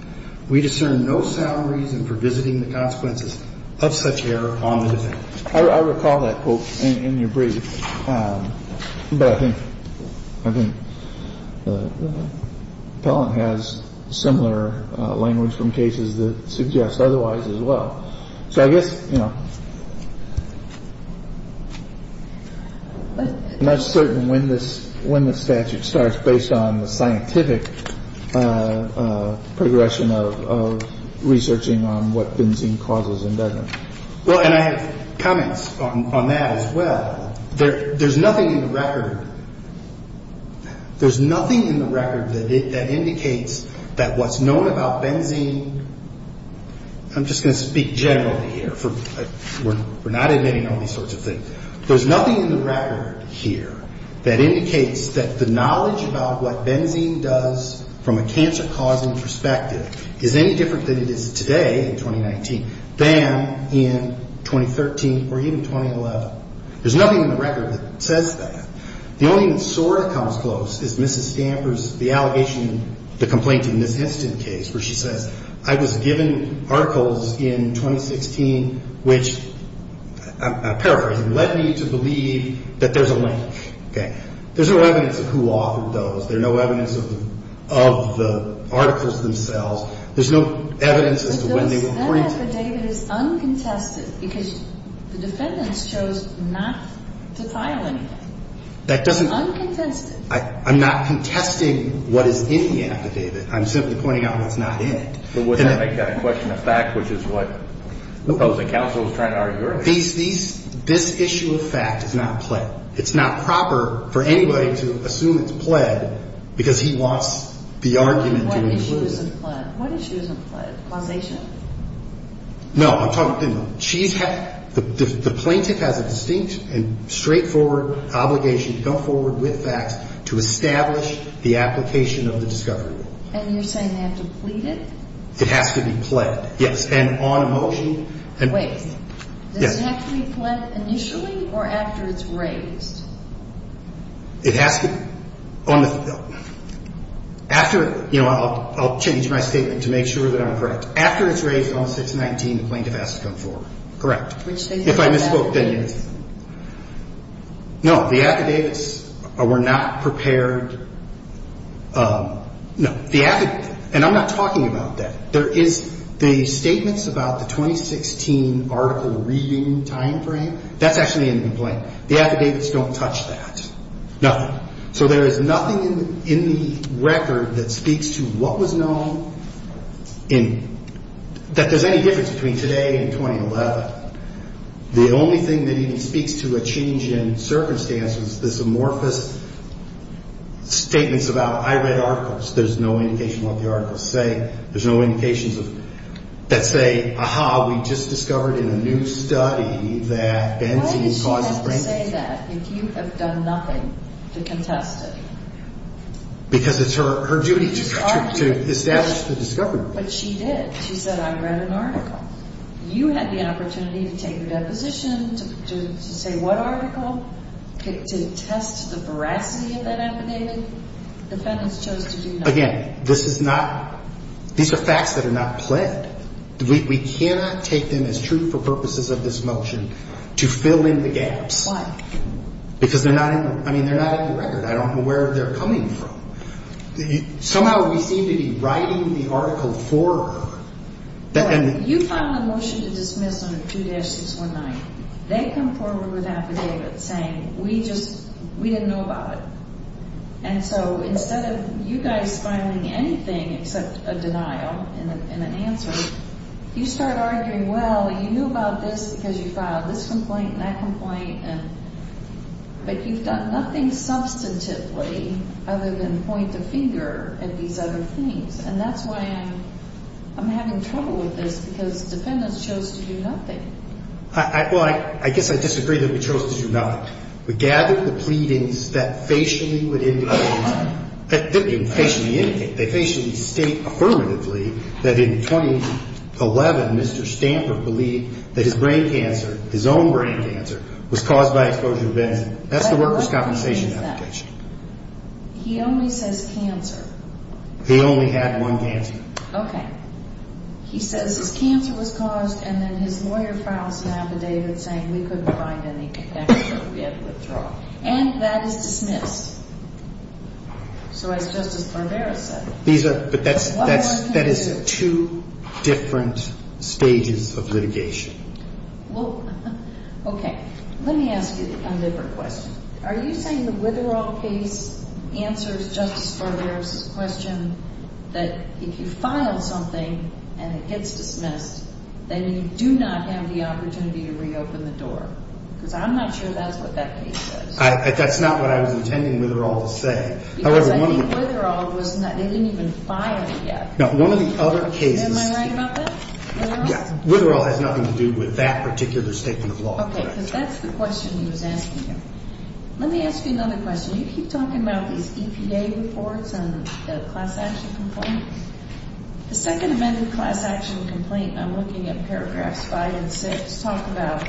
we discern no sound reason for visiting the consequences of such error on the defense. I recall that quote in your brief. But I think the appellant has similar language from cases that suggest otherwise as well. So I guess, you know, I'm not certain when the statute starts, based on the scientific progression of researching on what benzene causes and doesn't. Well, and I have comments on that as well. There's nothing in the record. There's nothing in the record that indicates that what's known about benzene – I'm just going to speak generally here. We're not admitting all these sorts of things. There's nothing in the record here that indicates that the knowledge about what benzene does from a cancer-causing perspective is any different than it is today, in 2019, than in 2013 or even 2011. There's nothing in the record that says that. The only thing that sort of comes close is Mrs. Stamper's – the allegation, the complaint in this instance case where she says, I was given articles in 2016 which – I'm paraphrasing – led me to believe that there's a link. Okay? There's no evidence of who authored those. There's no evidence of the articles themselves. There's no evidence as to when they were printed. But that affidavit is uncontested because the defendants chose not to file anything. That doesn't – It's uncontested. I'm not contesting what is in the affidavit. I'm simply pointing out what's not in it. But wouldn't that make that a question of fact, which is what opposing counsel was trying to argue earlier? These – this issue of fact is not pled. It's not proper for anybody to assume it's pled because he wants the argument to be rooted. What issue isn't pled? What issue isn't pled? Causation. No, I'm talking – she's – the plaintiff has a distinct and straightforward obligation to go forward with facts to establish the application of the discovery rule. And you're saying they have to plead it? It has to be pled. Yes. And on motion – Wait. Yes. Does it have to be pled initially or after it's raised? It has to be – on the – after – you know, I'll change my statement to make sure that I'm correct. After it's raised on 619, the plaintiff has to come forward. Correct. Which they did in the affidavits. If I misspoke, then yes. No, the affidavits were not prepared – no, the – and I'm not talking about that. There is – the statements about the 2016 article reading timeframe, that's actually in the complaint. The affidavits don't touch that. Nothing. So there is nothing in the record that speaks to what was known in – that there's any difference between today and 2011. The only thing that even speaks to a change in circumstance is this amorphous statements about I read articles. There's no indication what the articles say. There's no indications of – that say, aha, we just discovered in a new study that benzene causes – Why did she have to say that if you have done nothing to contest it? Because it's her duty to establish the discovery. But she did. She said I read an article. You had the opportunity to take a deposition, to say what article, to test the veracity of that affidavit. The defendants chose to do nothing. Again, this is not – these are facts that are not pled. We cannot take them as truthful purposes of this motion to fill in the gaps. Why? Because they're not in – I mean, they're not in the record. I don't know where they're coming from. Somehow we seem to be writing the article for her. You file a motion to dismiss under 2-619. They come forward with affidavits saying we just – we didn't know about it. And so instead of you guys filing anything except a denial and an answer, you start arguing, well, you knew about this because you filed this complaint and that complaint. But you've done nothing substantively other than point the finger at these other things. And that's why I'm having trouble with this because the defendants chose to do nothing. Well, I guess I disagree that we chose to do nothing. We gathered the pleadings that facially would indicate – I didn't mean facially indicate. They facially state affirmatively that in 2011 Mr. Stanford believed that his brain cancer, his own brain cancer, was caused by exposure to benzene. That's the workers' compensation application. He only says cancer. He only had one cancer. Okay. He says his cancer was caused and then his lawyer files an affidavit saying we couldn't find any connection or we had to withdraw. And that is dismissed. So as Justice Barbera said – These are – but that's – that is two different stages of litigation. Well, okay. Let me ask you a different question. Are you saying the Witherell case answers Justice Barbera's question that if you file something and it gets dismissed, then you do not have the opportunity to reopen the door? Because I'm not sure that's what that case was. That's not what I was intending Witherell to say. Because I think Witherell was not – they didn't even file yet. No, one of the other cases – Am I right about that, Witherell? Yeah. Witherell has nothing to do with that particular statement of law. Okay. Because that's the question he was asking you. Let me ask you another question. You keep talking about these EPA reports and the class action complaint. The second amendment class action complaint, I'm looking at paragraphs 5 and 6, talk about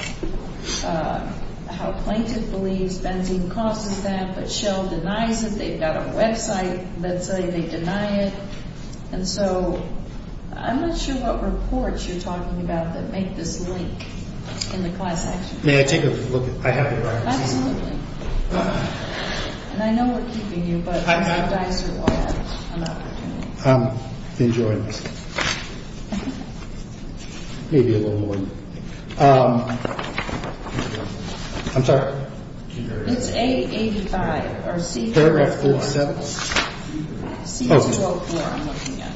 how plaintiff believes benzene causes that but Shell denies it. They've got a website that's saying they deny it. And so I'm not sure what reports you're talking about that make this link in the class action complaint. May I take a look at – I have it right here. Absolutely. And I know we're keeping you, but I'm surprised you all had an opportunity. Enjoying this. Maybe a little more. I'm sorry. It's A85 or C – Paragraph 47. C-204, I'm looking at.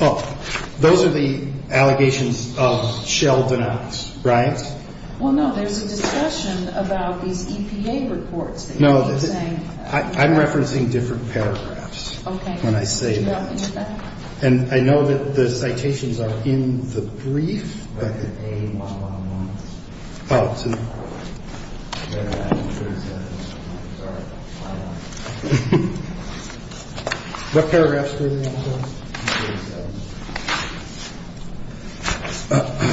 03-02-03-04. Those are the allegations of Shell denials, right? Well, no. There's a discussion about these EPA reports. No. I'm referencing different paragraphs when I say that. And I know that the citations are in the brief. I'm going to go back to A-111. Paragraph 47. I'm sorry. What paragraph is that? Paragraph 47.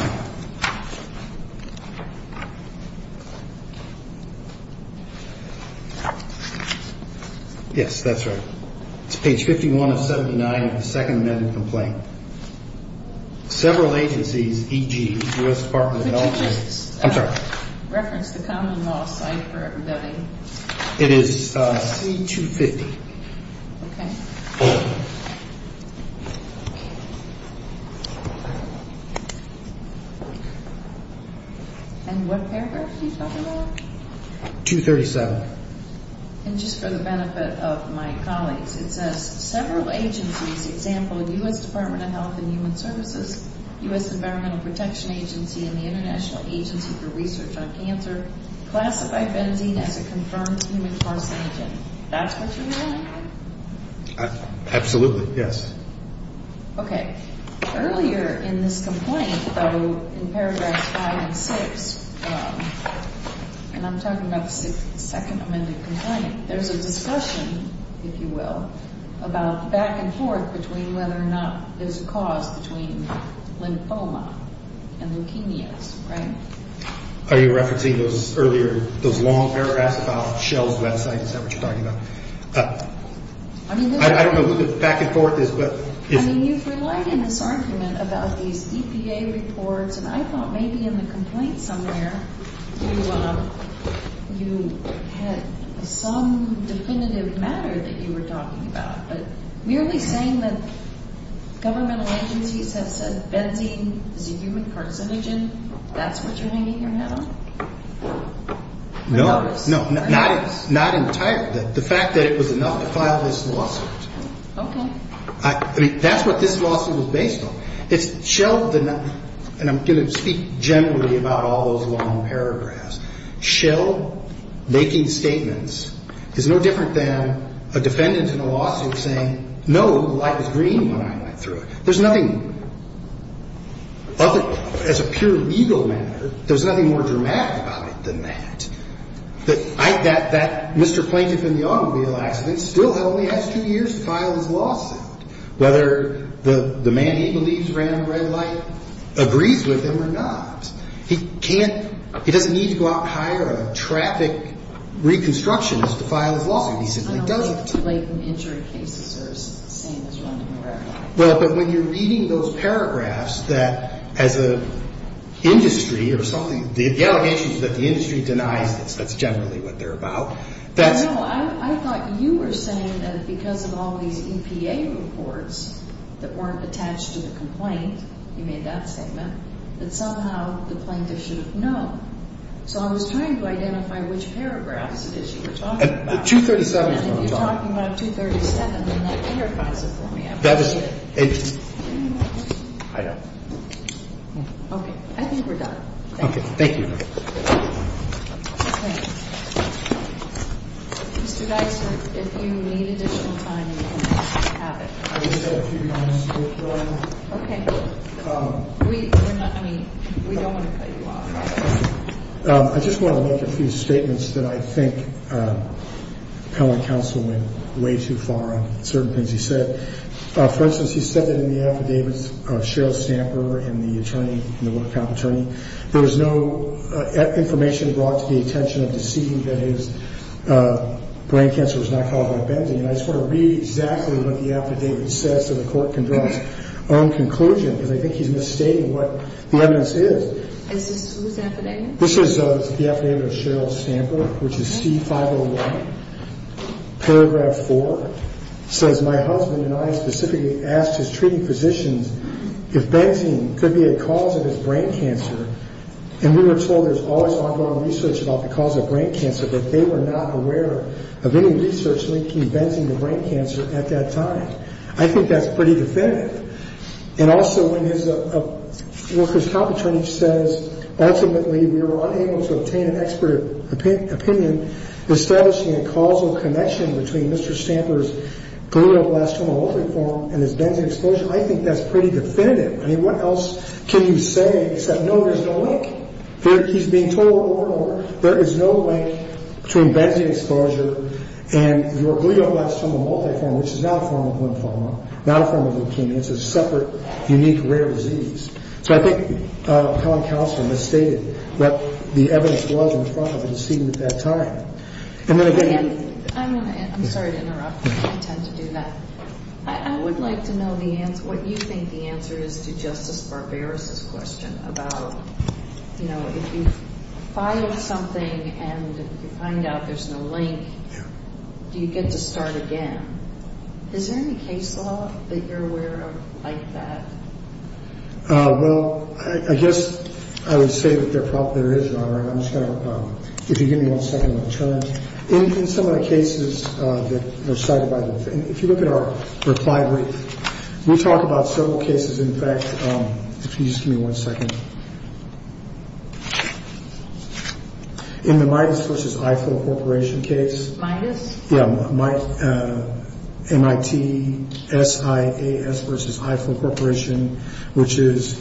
Yes, that's right. It's page 51 of 79 of the second amended complaint. Several agencies, e.g., U.S. Department of Health and – Could you just reference the common law site for embedding? It is C-250. Okay. And what paragraph are you talking about? 237. And just for the benefit of my colleagues, it says, several agencies, e.g., U.S. Department of Health and Human Services, U.S. Environmental Protection Agency, and the International Agency for Research on Cancer, classify benzene as a confirmed human carcinogen. That's what you're saying? Absolutely, yes. Okay. Earlier in this complaint, though, in paragraphs five and six, and I'm talking about the second amended complaint, there's a discussion, if you will, about the back and forth between whether or not there's a cause between lymphoma and leukemias, right? Are you referencing those earlier, those long paragraphs about Shell's website? Is that what you're talking about? I don't know who the back and forth is, but – I mean, you've relied in this argument about these EPA reports, and I thought maybe in the complaint somewhere you had some definitive matter that you were talking about. But merely saying that governmental agencies have said benzene is a human carcinogen, that's what you're hanging your hat on? No. I noticed. Not entirely. The fact that it was enough to file this lawsuit. Okay. I mean, that's what this lawsuit was based on. It's Shell – and I'm going to speak generally about all those long paragraphs. Shell making statements is no different than a defendant in a lawsuit saying, no, the light was green when I went through it. There's nothing – as a pure legal matter, there's nothing more dramatic about it than that. That Mr. Plaintiff in the automobile accident still only has two years to file his lawsuit, whether the man he believes ran a red light agrees with him or not. He can't – he doesn't need to go out and hire a traffic reconstructionist to file his lawsuit. He simply doesn't. I don't think blatant injury cases are the same as running a red light. Well, but when you're reading those paragraphs that, as an industry or something, the allegations that the industry denies that's generally what they're about, that's – No, I thought you were saying that because of all these EPA reports that weren't attached to the complaint, you made that statement, that somehow the plaintiff should have known. So I was trying to identify which paragraphs it is you were talking about. 237 is what I'm talking about. And if you're talking about 237, then that clarifies it for me. I appreciate it. That was – I know. Okay. I think we're done. Okay. Thank you. Okay. Mr. Dysart, if you need additional time, you can have it. I just have a few comments before I – Okay. We're not – I mean, we don't want to cut you off. I just want to make a few statements that I think appellant counsel went way too far on certain things he said. For instance, he said that in the affidavits of Cheryl Stamper and the attorney – there was no information brought to the attention of deceiving that his brain cancer was not caused by bending. And I just want to read exactly what the affidavit says so the court can draw its own conclusion because I think he's misstating what the evidence is. This is whose affidavit? This is the affidavit of Cheryl Stamper, which is C-501. Paragraph 4 says, My husband and I specifically asked his treating physicians if bending could be a cause of his brain cancer, and we were told there's always ongoing research about the cause of brain cancer, but they were not aware of any research linking bending to brain cancer at that time. I think that's pretty definitive. And also, when his workers' comp attorney says, ultimately, we were unable to obtain an expert opinion establishing a causal connection between Mr. Stamper's glioblastoma multiforme and his bending exposure, I think that's pretty definitive. I mean, what else can you say except no, there's no link? He's being told there is no link between bending exposure and your glioblastoma multiforme, which is not a form of lymphoma, not a form of leukemia. It's a separate, unique, rare disease. So I think Helen Calser misstated what the evidence was in front of the decedent at that time. I'm sorry to interrupt. I tend to do that. I would like to know what you think the answer is to Justice Barbaros' question about, you know, if you file something and you find out there's no link, do you get to start again? Is there any case law that you're aware of like that? Well, I guess I would say that there is, Your Honor. And I'm just going to, if you give me one second, I'm going to turn. In some of the cases that were cited by the, if you look at our reply brief, we talk about several cases. In fact, if you just give me one second. In the Midas v. Ifill Corporation case. Midas? Yeah. MIT SIAS v. Ifill Corporation, which is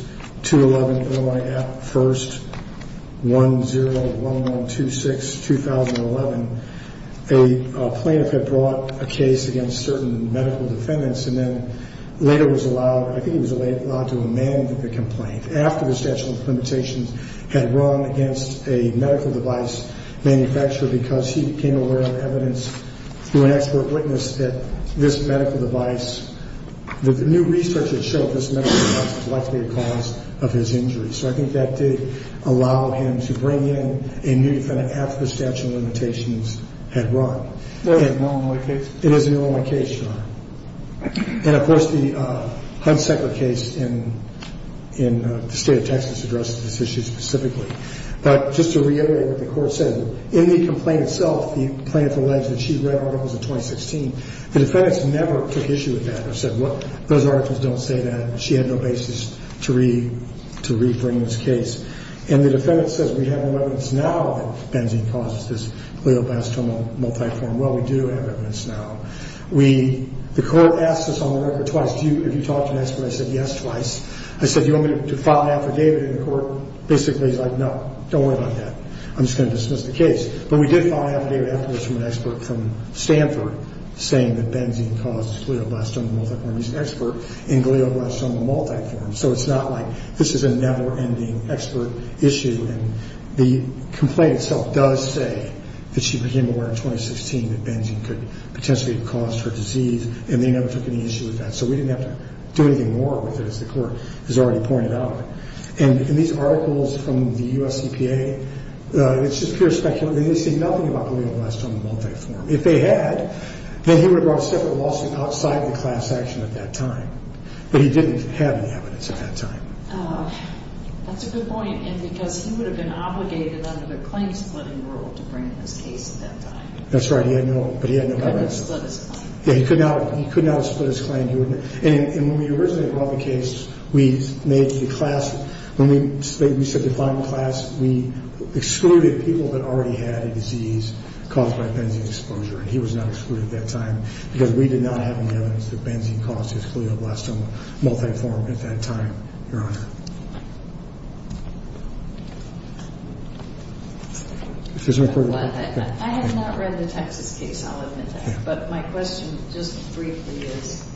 2-11-01-1st-1-0-1-1-2-6-2011. A plaintiff had brought a case against certain medical defendants and then later was allowed, I think he was allowed to amend the complaint after the statute of limitations had run against a medical device manufacturer because he became aware of evidence through an expert witness that this medical device, that the new research that showed this medical device was likely a cause of his injury. So I think that did allow him to bring in a new defendant after the statute of limitations had run. That was the only case? It is the only case, Your Honor. And, of course, the Hunsaker case in the state of Texas addressed this issue specifically. But just to reiterate what the Court said, in the complaint itself, the plaintiff alleged that she read articles in 2016. The defendants never took issue with that or said, well, those articles don't say that. She had no basis to re-bring this case. And the defendant says we have evidence now that benzene causes this glioblastoma multiforme. Well, we do have evidence now. The Court asked us on the record twice, have you talked to an expert? I said, yes, twice. I said, do you want me to file an affidavit in the Court? Basically, he's like, no, don't worry about that. I'm just going to dismiss the case. But we did file an affidavit afterwards from an expert from Stanford saying that benzene caused glioblastoma multiforme. He's an expert in glioblastoma multiforme. So it's not like this is a never-ending expert issue. And the complaint itself does say that she became aware in 2016 that benzene could potentially cause her disease, and they never took any issue with that. So we didn't have to do anything more with it, as the Court has already pointed out. And these articles from the U.S. EPA, it's just pure speculation. They didn't say nothing about glioblastoma multiforme. If they had, then he would have brought a separate lawsuit outside of the class action at that time. But he didn't have any evidence at that time. That's a good point. And because he would have been obligated under the claim-splitting rule to bring this case at that time. That's right. He had no evidence. He couldn't have split his claim. And when we originally brought the case, we made the class, when we said define the class, we excluded people that already had a disease caused by benzene exposure. And he was not excluded at that time because we did not have any evidence that benzene caused his glioblastoma multiforme at that time, Your Honor. I have not read the Texas case. I'll admit that. But my question just briefly is,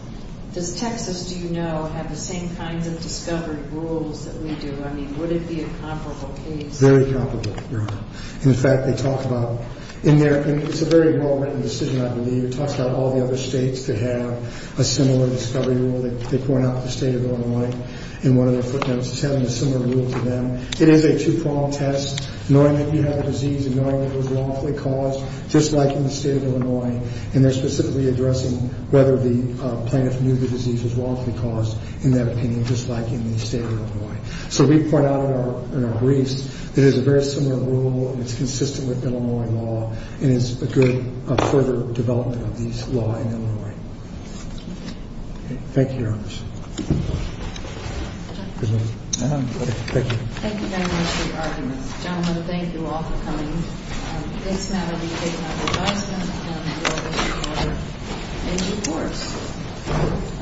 does Texas, do you know, have the same kinds of discovery rules that we do? I mean, would it be a comparable case? Very comparable, Your Honor. In fact, they talk about in their, it's a very well-written decision, I believe. It talks about all the other states could have a similar discovery rule. They point out the state of Illinois in one of their footnotes is having a similar rule to them. It is a two-prong test, knowing that you have a disease and knowing that it was lawfully caused, just like in the state of Illinois. And they're specifically addressing whether the plaintiff knew the disease was lawfully caused, in their opinion, just like in the state of Illinois. So we point out in our briefs that it is a very similar rule and it's consistent with Illinois law and is a good further development of these law in Illinois. Thank you, Your Honor. Thank you, Governor, for your arguments. John, I want to thank you all for coming. It's an honor to be taking your advice and I look forward to hearing your reports.